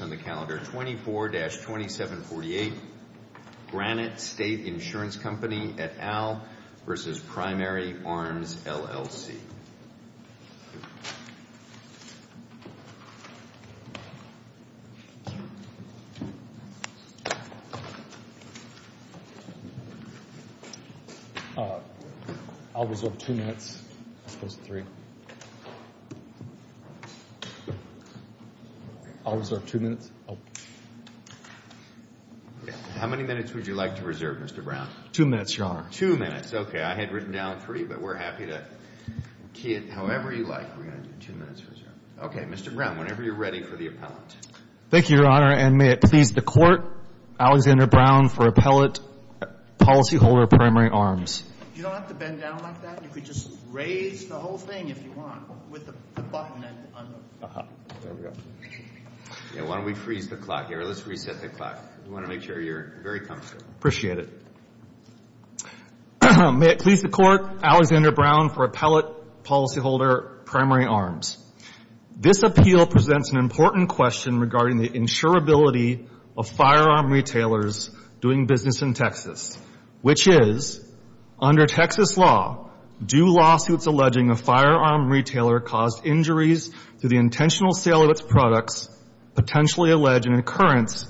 on the calendar 24-2748 Granite State Insurance Company et al. v. Primary Arms, LLC. I'll reserve two minutes, opposed to three. I'll reserve two minutes. How many minutes would you like to reserve, Mr. Brown? Two minutes, Your Honor. Two minutes. Okay. I had written down three, but we're happy to key it however you like. We're going to do two minutes reserve. Okay. Mr. Brown, whenever you're ready for the appellant. Thank you, Your Honor. And may it please the Court, Alexander Brown for Appellant, Policyholder, Primary Arms. You don't have to bend down like that. You could just raise the whole thing if you want with the button and undo. Uh-huh. There we go. Yeah. Why don't we freeze the clock here? Let's reset the clock. We want to make sure you're very comfortable. Appreciate it. May it please the Court, Alexander Brown for Appellant, Policyholder, Primary Arms. This appeal presents an important question regarding the insurability of firearm retailers doing business in Texas, which is, under Texas law, do lawsuits alleging a firearm retailer caused injuries to the intentional sale of its products potentially allege an occurrence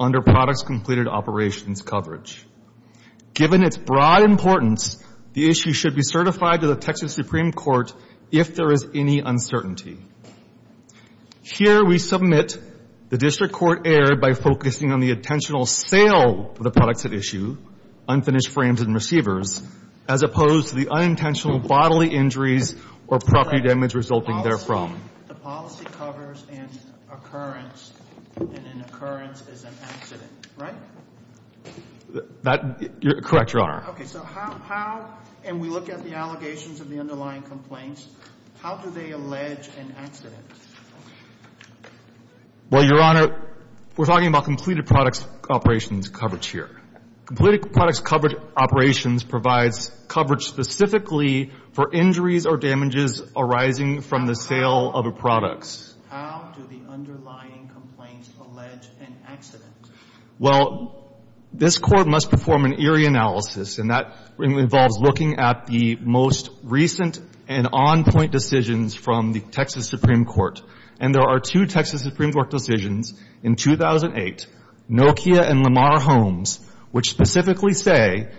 under products completed operations coverage? Given its broad importance, the issue should be certified to the Texas Supreme Court if there is any uncertainty. Here we submit the District Court erred by focusing on the intentional sale of the products at issue, unfinished frames and receivers, as opposed to the unintentional bodily injuries or property damage resulting therefrom. The policy covers an occurrence, and an occurrence is an accident, right? That — correct, Your Honor. Okay. So how — and we look at the allegations of the underlying complaints. How do they allege an accident? Well, Your Honor, we're talking about completed products operations coverage here. Completed products coverage operations provides coverage specifically for injuries or damages arising from the sale of a product. How do the underlying complaints allege an accident? Well, this Court must perform an eerie analysis, and that involves looking at the most recent and on-point decisions from the Texas Supreme Court. And there are two Texas Supreme Court decisions in 2008, Nokia and Lamar Holmes, which specifically say —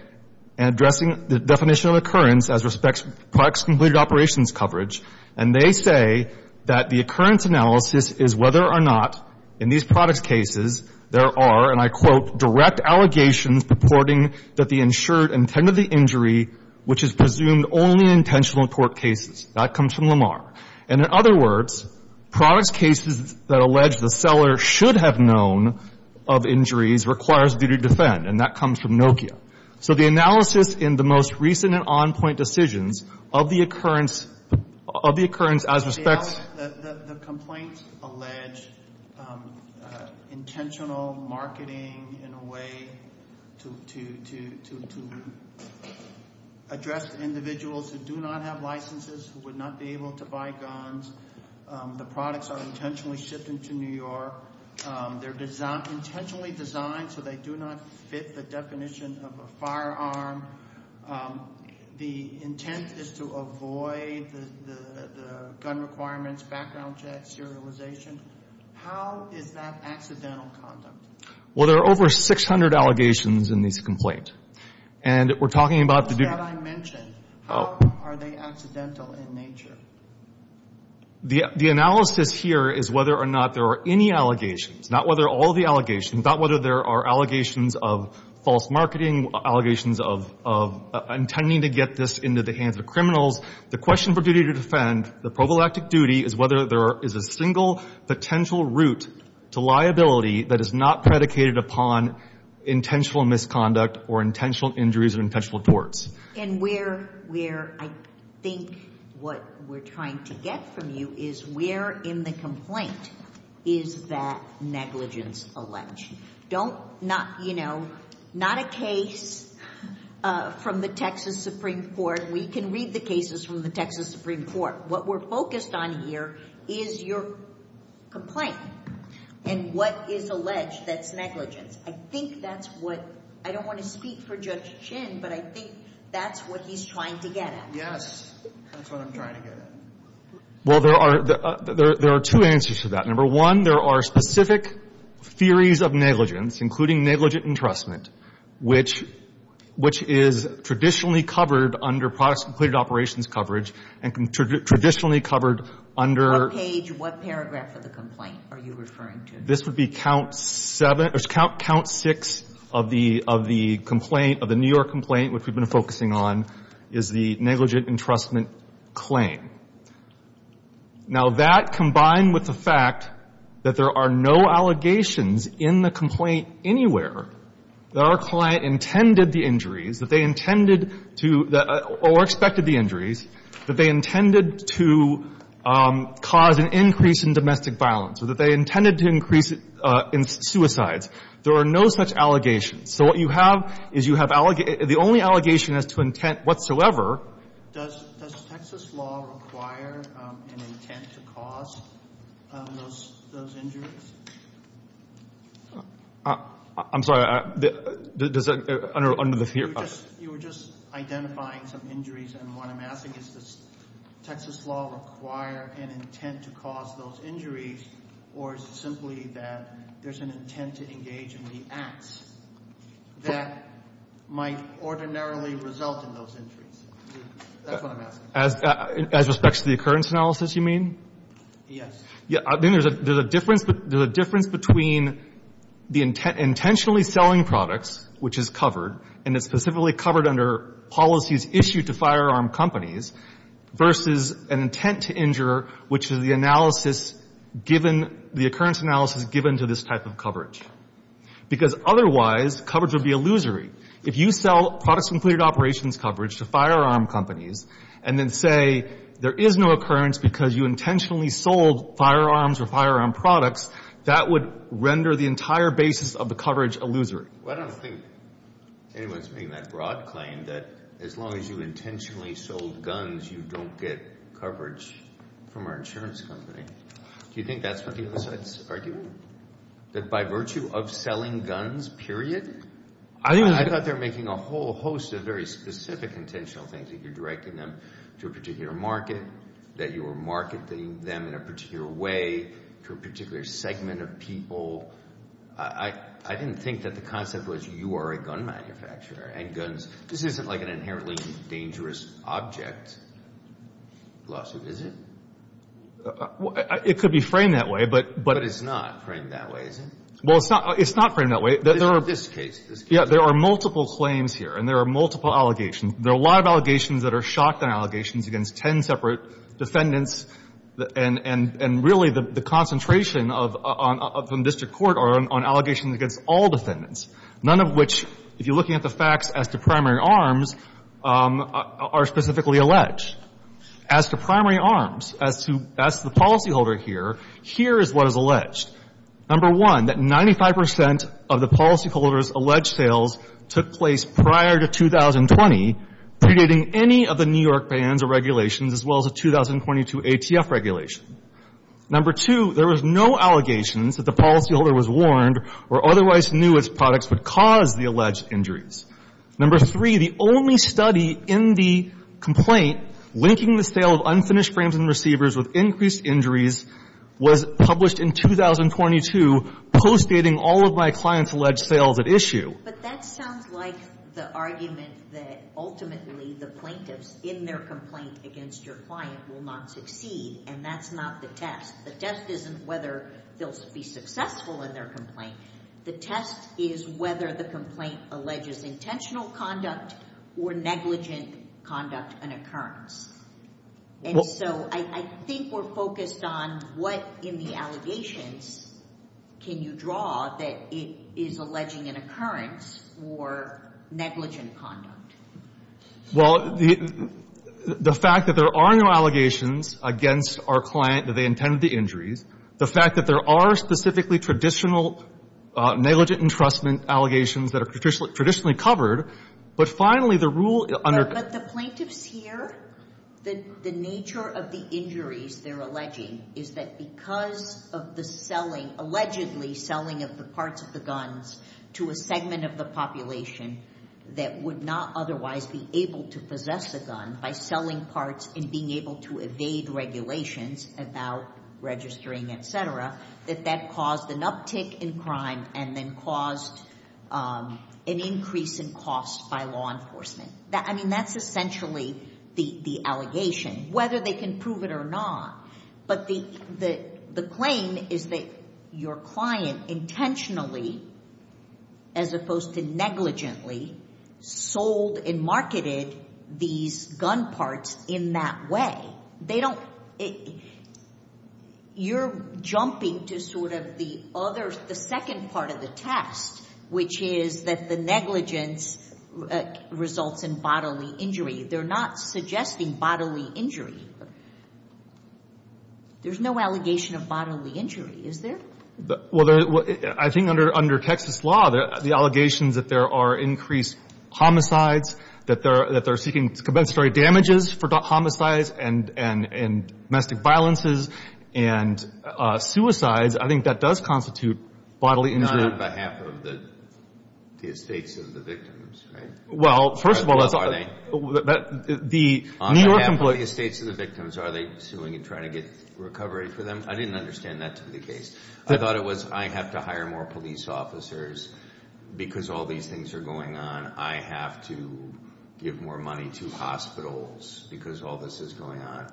addressing the definition of occurrence as respects products completed operations coverage, and they say that the occurrence analysis is whether or not, in these product cases, there are, and I quote, direct allegations purporting that the insured intended the injury, which is presumed only in intentional court cases. That comes from Lamar. And in other words, products cases that allege the seller should have known of injuries requires duty to defend, and that comes from Nokia. So the analysis in the most recent and on-point decisions of the occurrence — of the occurrence as respects — The complaints allege intentional marketing in a way to address individuals who do not have licenses, who would not be able to buy guns. The products are intentionally shipped into New York. They're intentionally designed so they do not fit the definition of a firearm. The intent is to avoid the gun requirements, background checks, serialization. How is that accidental conduct? Well, there are over 600 allegations in these complaints. And we're talking about — Those that I mentioned, how are they accidental in nature? The analysis here is whether or not there are any allegations, not whether all the allegations, not whether there are allegations of false marketing, allegations of intending to get this into the hands of criminals. The question for duty to defend, the prophylactic duty, is whether there is a single potential route to liability that is not predicated upon intentional misconduct or intentional injuries or intentional torts. And where — where I think what we're trying to get from you is where in the complaint is that negligence alleged? Don't — not — you know, not a case from the Texas Supreme Court. We can read the cases from the Texas Supreme Court. What we're focused on here is your complaint and what is alleged that's negligence. I think that's what — I don't want to speak for Judge Chin, but I think that's what he's trying to get at. Yes. That's what I'm trying to get at. Well, there are — there are two answers to that. Number one, there are specific theories of negligence, including negligent entrustment, which — which is traditionally covered under products and completed operations coverage and traditionally covered under — What page, what paragraph of the complaint are you referring to? This would be count seven — or count six of the — of the complaint, of the New York complaint, which we've been focusing on, is the negligent entrustment claim. Now, that combined with the fact that there are no allegations in the complaint anywhere that our client intended the injuries, that they intended to — or expected the injuries, that they intended to cause an increase in domestic violence, or that they intended to increase in suicides, there are no such allegations. So what you have is you have — the only allegation as to intent whatsoever — Does — does Texas law require an intent to cause those — those injuries? I'm sorry. Does that — under the theory — You were just — you were just identifying some injuries, and what I'm asking is, does Texas law require an intent to cause those injuries, or is it simply that there's an intent to engage in the acts that might ordinarily result in those injuries? That's what I'm asking. As — as respects to the occurrence analysis, you mean? Yes. Yeah. I mean, there's a — there's a difference — there's a difference between the intent — intentionally selling products, which is covered, and it's specifically covered under policies issued to firearm companies, versus an intent to injure, which is the analysis given — the occurrence analysis given to this type of coverage. Because otherwise, coverage would be illusory. If you sell products with clear operations coverage to firearm companies, and then say there is no occurrence because you intentionally sold firearms or firearm products, that would render the entire basis of the coverage illusory. Well, I don't think anyone's making that broad claim that as long as you intentionally sold guns, you don't get coverage from our insurance company. Do you think that's what the other side's arguing? That by virtue of selling guns, period, I thought they were making a whole host of very specific intentional things, that you're directing them to a particular market, that you were marketing them in a particular way to a particular segment of people. I didn't think that the concept was you are a gun manufacturer, and guns — this isn't like an inherently dangerous object lawsuit, is it? It could be framed that way, but — But it's not framed that way, is it? Well, it's not — it's not framed that way. In this case. Yeah, there are multiple claims here, and there are multiple allegations. There are a lot of allegations that are shotgun allegations against ten separate defendants, and really the concentration of — from district court are on allegations against all defendants, none of which, if you're looking at the facts as to primary arms, are specifically alleged. As to primary arms, as to — as to the policyholder here, here is what is alleged. Number one, that 95 percent of the policyholder's alleged sales took place prior to 2020, predating any of the New York bans or regulations, as well as the 2022 ATF regulation. Number two, there was no allegations that the policyholder was warned or otherwise knew its products would cause the alleged injuries. Number three, the only study in the complaint linking the sale of unfinished frames and receivers with increased injuries was published in 2022, postdating all of my clients' alleged sales at issue. But that sounds like the argument that ultimately the plaintiffs in their complaint against your client will not succeed, and that's not the test. The test isn't whether they'll be successful in their complaint. The test is whether the complaint alleges intentional conduct or negligent conduct and occurrence. And so I think we're focused on what in the allegations can you draw that it is alleging an occurrence or negligent conduct. Well, the fact that there are no allegations against our client that they intended the injuries, the fact that there are specifically traditional negligent entrustment allegations that are traditionally covered, but finally, the rule — But the plaintiffs here, the nature of the injuries they're alleging is that because of the selling, allegedly selling of the parts of the guns to a segment of the population that would not otherwise be able to possess a gun by selling parts and being able to evade regulations about registering, et cetera, that that caused an uptick in crime and then caused an increase in costs by law enforcement. I mean, that's essentially the allegation, whether they can prove it or not. But the claim is that your client intentionally, as opposed to negligently, sold and marketed these gun parts in that way. Well, they don't — you're jumping to sort of the other — the second part of the test, which is that the negligence results in bodily injury. They're not suggesting bodily injury. There's no allegation of bodily injury, is there? Well, I think under Texas law, the allegations that there are increased homicides, that they're seeking compensatory damages for homicides and domestic violences and suicides, I think that does constitute bodily injury. Not on behalf of the estates of the victims, right? Well, first of all — On behalf of the estates of the victims, are they suing and trying to get recovery for them? I didn't understand that to be the case. I thought it was, I have to hire more police officers because all these things are going on. I have to give more money to hospitals because all this is going on.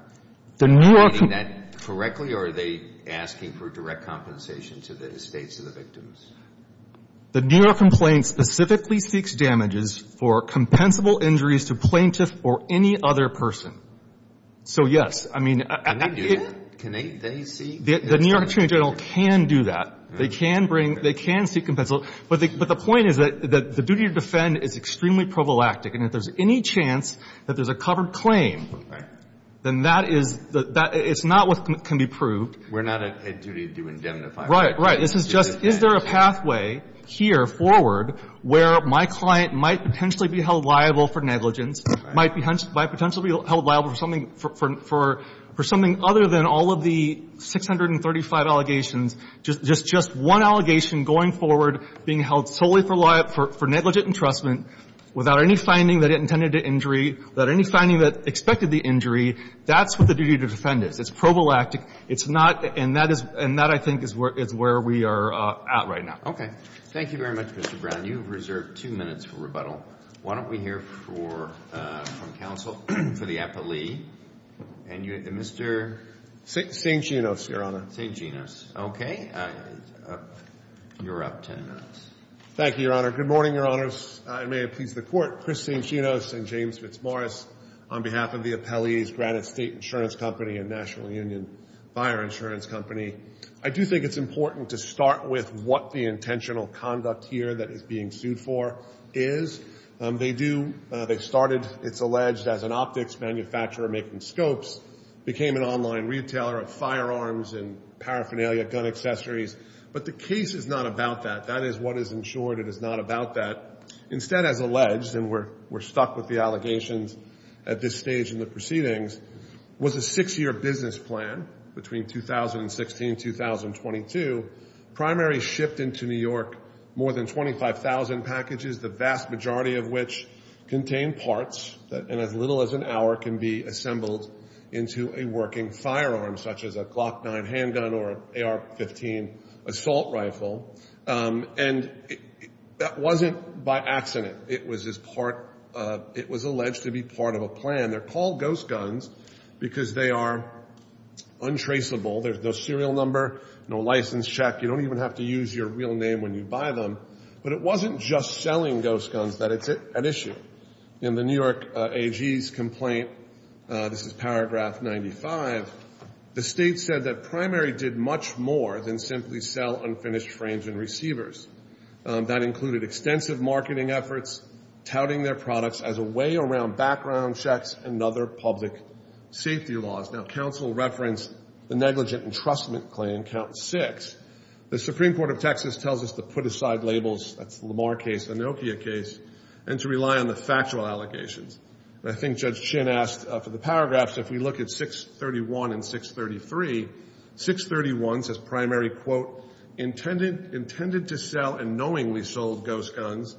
The New York — Are they doing that correctly, or are they asking for direct compensation to the estates of the victims? The New York complaint specifically seeks damages for compensable injuries to plaintiffs or any other person. So, yes, I mean — Can they do that? Can they seek — The New York Attorney General can do that. They can bring — they can seek compensable. But the point is that the duty to defend is extremely prophylactic. And if there's any chance that there's a covered claim, then that is — it's not what can be proved. We're not at a duty to indemnify. Right. Right. This is just, is there a pathway here forward where my client might potentially be held liable for negligence, might potentially be held liable for something other than all of the 635 allegations, just one allegation going forward, being held solely for negligent entrustment without any finding that it intended to injury, without any finding that expected the injury, that's what the duty to defend is. It's prophylactic. It's not — and that is — and that, I think, is where we are at right now. Okay. Thank you very much, Mr. Brown. You have reserved two minutes for rebuttal. Why don't we hear from counsel for the appellee and Mr. — St. Genos, Your Honor. St. Genos. Okay. You're up 10 minutes. Thank you, Your Honor. Good morning, Your Honors. And may it please the Court. Chris St. Genos and James Fitzmaurice on behalf of the appellees, Granite State Insurance Company and National Union Fire Insurance Company. I do think it's important to start with what the intentional conduct here that is being sued for is. They do — they started, it's alleged, as an optics manufacturer making scopes, became an online retailer of firearms and paraphernalia, gun accessories. But the case is not about that. That is what is ensured. It is not about that. Instead, as alleged, and we're stuck with the allegations at this stage in the proceedings, was a six-year business plan between 2016-2022, primarily shipped into New York, more than 25,000 packages, the vast majority of which contained parts that in as little as an hour can be assembled into a working firearm, such as a Glock 9 handgun or an AR-15 assault rifle. And that wasn't by accident. It was as part of — it was alleged to be part of a plan. They're called ghost guns because they are untraceable. There's no serial number, no license check. You don't even have to use your real name when you buy them. But it wasn't just selling ghost guns that it's an issue. In the New York AG's complaint, this is paragraph 95, the state said that Primary did much more than simply sell unfinished frames and receivers. That included extensive marketing efforts, touting their products as a way around background checks and other public safety laws. Now, counsel referenced the negligent entrustment claim, count six. The Supreme Court of Texas tells us to put aside labels — that's the Lamar case, the Nokia case — and to rely on the factual allegations. I think Judge Chin asked for the paragraphs. If we look at 631 and 633, 631 says Primary, quote, intended to sell and knowingly sold ghost guns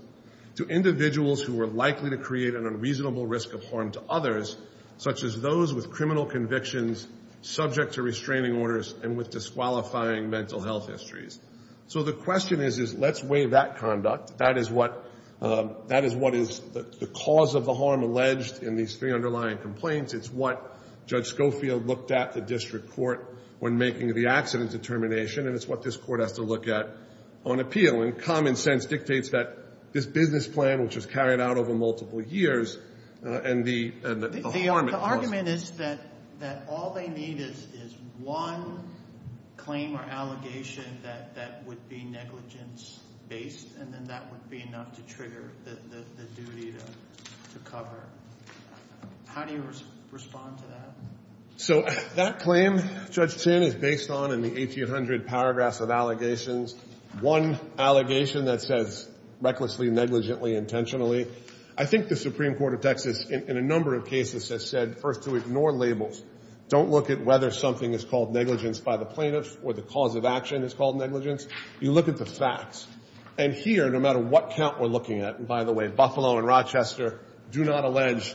to individuals who were likely to create an unreasonable risk of harm to others, such as those with criminal convictions subject to restraining orders and with disqualifying mental health histories. So the question is, let's weigh that conduct. That is what is the cause of the harm alleged in these three underlying complaints. It's what Judge Schofield looked at the district court when making the accident determination, and it's what this court has to look at on appeal. And common sense dictates that this business plan, which was carried out over multiple years, and the harm it caused — The argument is that all they need is one claim or allegation that would be negligence-based, and then that would be enough to trigger the duty to cover. How do you respond to that? So that claim, Judge Chin, is based on, in the 1,800 paragraphs of allegations, one allegation that says recklessly, negligently, intentionally. I think the Supreme Court of Texas in a number of cases has said, first, to ignore labels. Don't look at whether something is called negligence by the plaintiffs or the cause of action is called negligence. You look at the facts. And here, no matter what count we're looking at — and, by the way, Buffalo and Rochester do not allege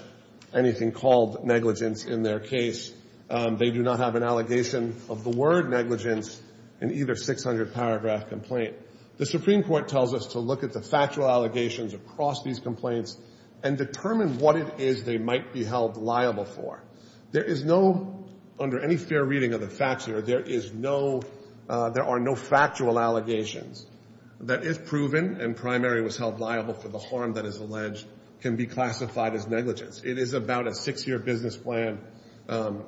anything called negligence in their case. They do not have an allegation of the word negligence in either 600-paragraph complaint. The Supreme Court tells us to look at the factual allegations across these complaints and determine what it is they might be held liable for. There is no — under any fair reading of the facts here, there is no — there are no factual allegations that, if proven and primary was held liable for the harm that is alleged, can be classified as negligence. It is about a six-year business plan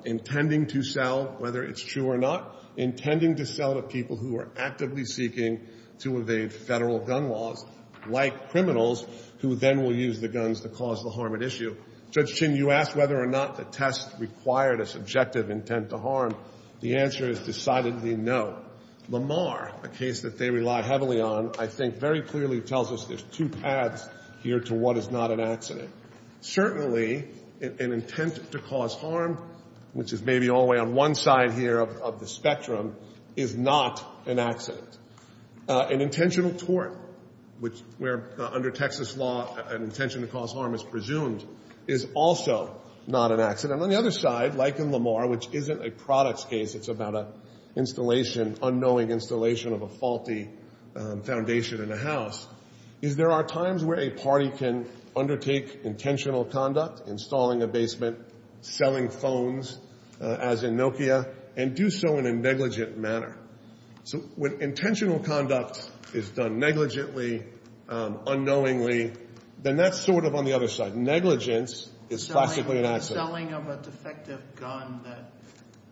intending to sell, whether it's true or not, intending to sell to people who are actively seeking to evade federal gun laws, like criminals who then will use the guns to cause the harm at issue. Judge Chin, you asked whether or not the test required a subjective intent to harm. The answer is decidedly no. Lamar, a case that they rely heavily on, I think very clearly tells us there's two paths here to what is not an accident. Certainly, an intent to cause harm, which is maybe all the way on one side here of the spectrum, is not an accident. An intentional tort, which — where, under Texas law, an intention to cause harm is presumed, is also not an accident. And on the other side, like in Lamar, which isn't a products case, it's about an installation, unknowing installation of a faulty foundation in a house, is there are times where a party can undertake intentional conduct, installing a basement, selling phones, as in Nokia, and do so in a negligent manner. So when intentional conduct is done negligently, unknowingly, then that's sort of on the other side. But negligence is classically an accident. Selling of a defective gun that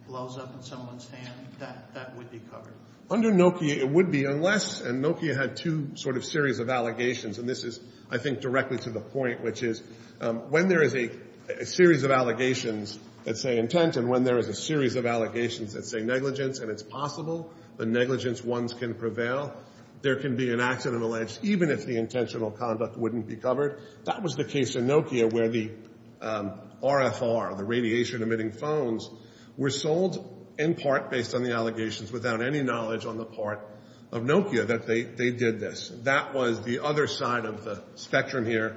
blows up in someone's hand, that would be covered. Under Nokia, it would be unless — and Nokia had two sort of series of allegations, and this is, I think, directly to the point, which is when there is a series of allegations that say intent and when there is a series of allegations that say negligence and it's possible the negligence ones can prevail, there can be an accident alleged, even if the intentional conduct wouldn't be covered. That was the case in Nokia where the RFR, the radiation-emitting phones, were sold in part based on the allegations without any knowledge on the part of Nokia that they did this. That was the other side of the spectrum here,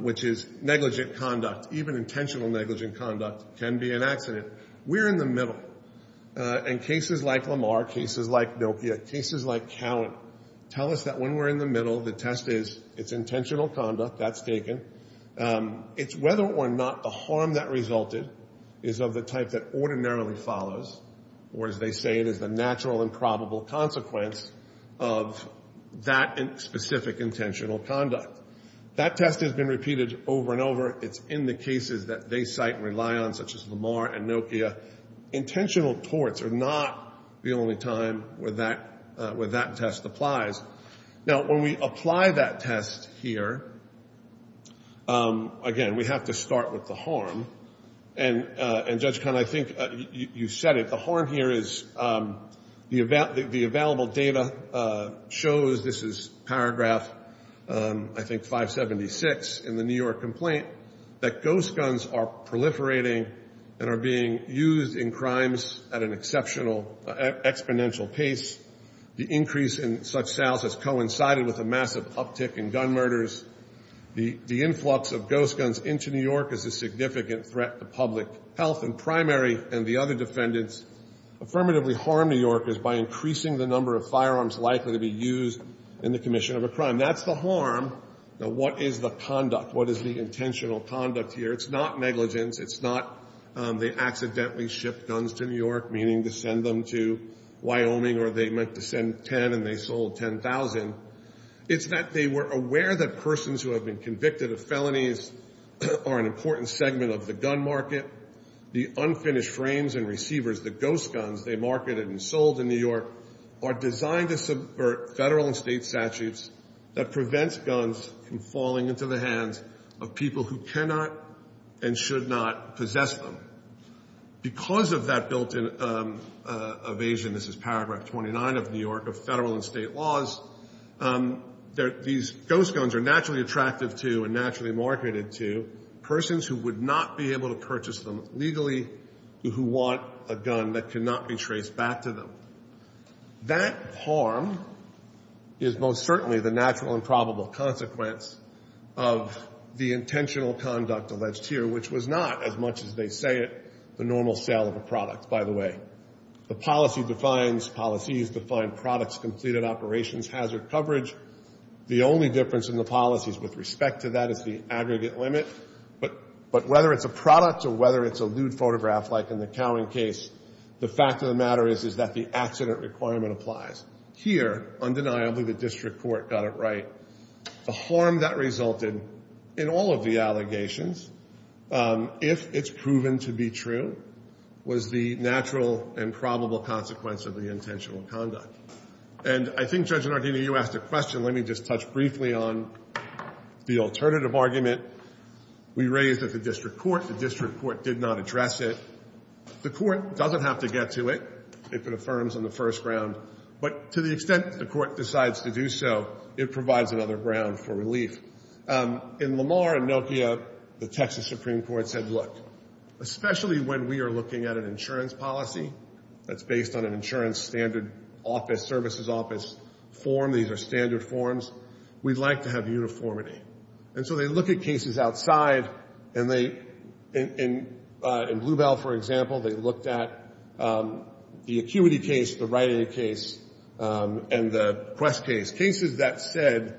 which is negligent conduct. Even intentional negligent conduct can be an accident. We're in the middle, and cases like Lamar, cases like Nokia, cases like Cowan, tell us that when we're in the middle, the test is it's intentional conduct, that's taken. It's whether or not the harm that resulted is of the type that ordinarily follows, or as they say, it is the natural and probable consequence of that specific intentional conduct. That test has been repeated over and over. It's in the cases that they cite and rely on, such as Lamar and Nokia. Intentional torts are not the only time where that test applies. Now, when we apply that test here, again, we have to start with the harm. And Judge Kahn, I think you said it. The harm here is the available data shows, this is paragraph I think 576 in the New York complaint, that ghost guns are proliferating and are being used in crimes at an exceptional exponential pace. The increase in such sales has coincided with a massive uptick in gun murders. The influx of ghost guns into New York is a significant threat to public health, and primary and the other defendants affirmatively harm New Yorkers by increasing the number of firearms likely to be used in the commission of a crime. That's the harm. Now, what is the conduct? What is the intentional conduct here? It's not negligence. It's not they accidentally shipped guns to New York, meaning to send them to Wyoming, or they meant to send 10 and they sold 10,000. It's that they were aware that persons who have been convicted of felonies are an important segment of the gun market. The unfinished frames and receivers, the ghost guns they marketed and sold in New York, are designed to subvert federal and state statutes that prevents guns from falling into the hands of people who cannot and should not possess them. Because of that built-in evasion, this is paragraph 29 of New York, of federal and state laws, these ghost guns are naturally attractive to and naturally marketed to persons who would not be able to purchase them legally, who want a gun that cannot be traced back to them. That harm is most certainly the natural and probable consequence of the intentional conduct alleged here, which was not, as much as they say it, the normal sale of a product, by the way. The policy defines policies, defined products, completed operations, hazard coverage. The only difference in the policies with respect to that is the aggregate limit, but whether it's a product or whether it's a lewd photograph, like in the Cowan case, the fact of the matter is that the accident requirement applies. Here, undeniably, the district court got it right. The harm that resulted in all of the allegations, if it's proven to be true, was the natural and probable consequence of the intentional conduct. And I think, Judge Nardini, you asked a question. Let me just touch briefly on the alternative argument we raised at the district court. The district court did not address it. The court doesn't have to get to it if it affirms on the first round, but to the extent the court decides to do so, it provides another ground for relief. In Lamar and Nokia, the Texas Supreme Court said, especially when we are looking at an insurance policy that's based on an insurance standard office, services office form, these are standard forms, we'd like to have uniformity. And so they look at cases outside, and in Bluebell, for example, they looked at the Acuity case, the Rite Aid case, and the Quest case, cases that said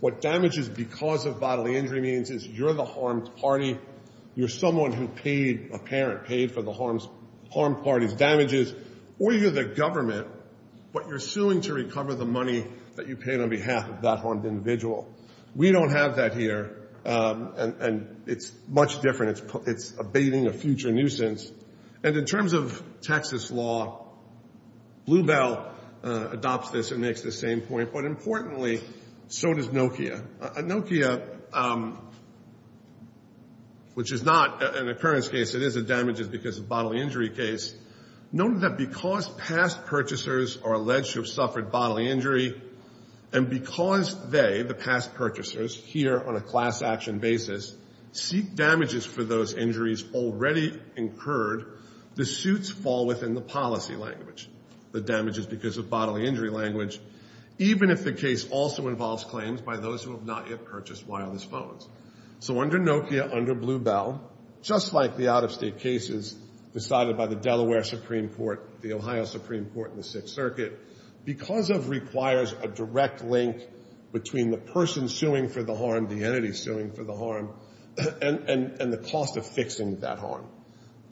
what damage is because of bodily injury means is you're the harmed party, you're someone who paid a parent, paid for the harmed party's damages, or you're the government, but you're suing to recover the money that you paid on behalf of that harmed individual. We don't have that here, and it's much different. It's abating a future nuisance. And in terms of Texas law, Bluebell adopts this and makes the same point, but importantly, so does Nokia. Nokia, which is not an occurrence case, it is a damage is because of bodily injury case, noted that because past purchasers are alleged to have suffered bodily injury, and because they, the past purchasers, here on a class action basis, seek damages for those injuries already incurred, the suits fall within the policy language, the damage is because of bodily injury language, even if the case also involves claims by those who have not yet purchased wireless phones. So under Nokia, under Bluebell, just like the out-of-state cases decided by the Delaware Supreme Court, the Ohio Supreme Court, and the Sixth Circuit, because of requires a direct link between the person suing for the harm, the entity suing for the harm, and the cost of fixing that harm.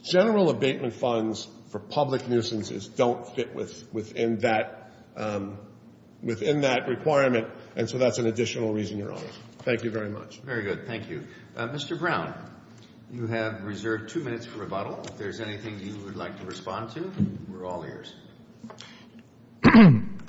General abatement funds for public nuisances don't fit within that requirement, and so that's an additional reason, Your Honor. Thank you very much. Very good. Thank you. Mr. Brown, you have reserved two minutes for rebuttal. If there's anything you would like to respond to, we're all ears.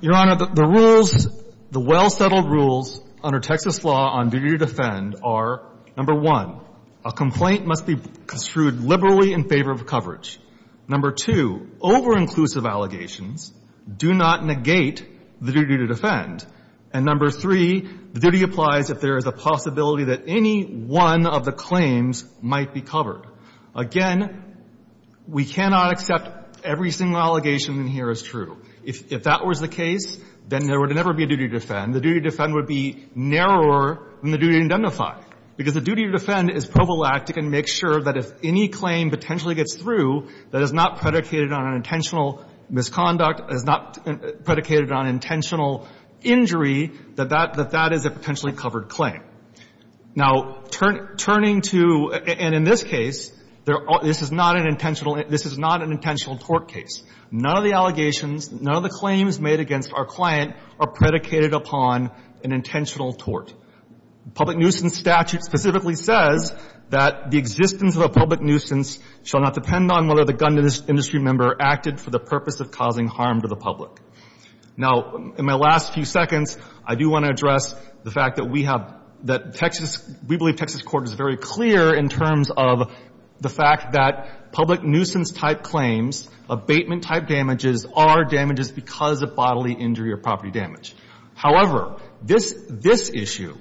Your Honor, the rules, the well-settled rules under Texas law on duty to defend are, number one, a complaint must be construed liberally in favor of coverage. Number two, over-inclusive allegations do not negate the duty to defend. And number three, the duty applies if there is a possibility that any one of the claims might be covered. Again, we cannot accept every single allegation in here as true. If that was the case, then there would never be a duty to defend. The duty to defend would be narrower than the duty to identify, because the duty to defend is prophylactic and makes sure that if any claim potentially gets through that is not predicated on an intentional misconduct, is not predicated on intentional injury, that that is a potentially covered claim. Now, turning to — and in this case, this is not an intentional — this is not an intentional tort case. None of the allegations, none of the claims made against our client are predicated upon an intentional tort. Public nuisance statute specifically says that the existence of a public nuisance shall not depend on whether the gun industry member acted for the purpose of causing harm to the public. Now, in my last few seconds, I do want to address the fact that we have — that Texas — we believe Texas court is very clear in terms of the fact that public nuisance claim-type damages are damages because of bodily injury or property damage. However, this — this issue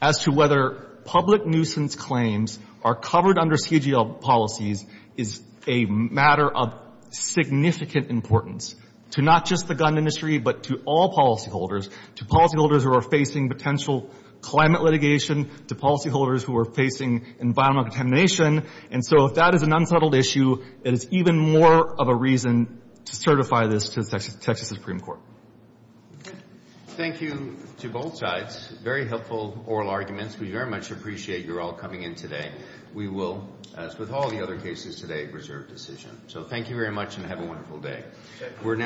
as to whether public nuisance claims are covered under CGL policies is a matter of significant importance to not just the gun industry, but to all policyholders, to policyholders who are facing potential climate litigation, to policyholders who are facing environmental contamination. And so if that is an unsettled issue, it is even more of a reason to certify this to the Texas Supreme Court. Thank you to both sides. Very helpful oral arguments. We very much appreciate your all coming in today. We will, as with all the other cases today, reserve decision. So thank you very much and have a wonderful day.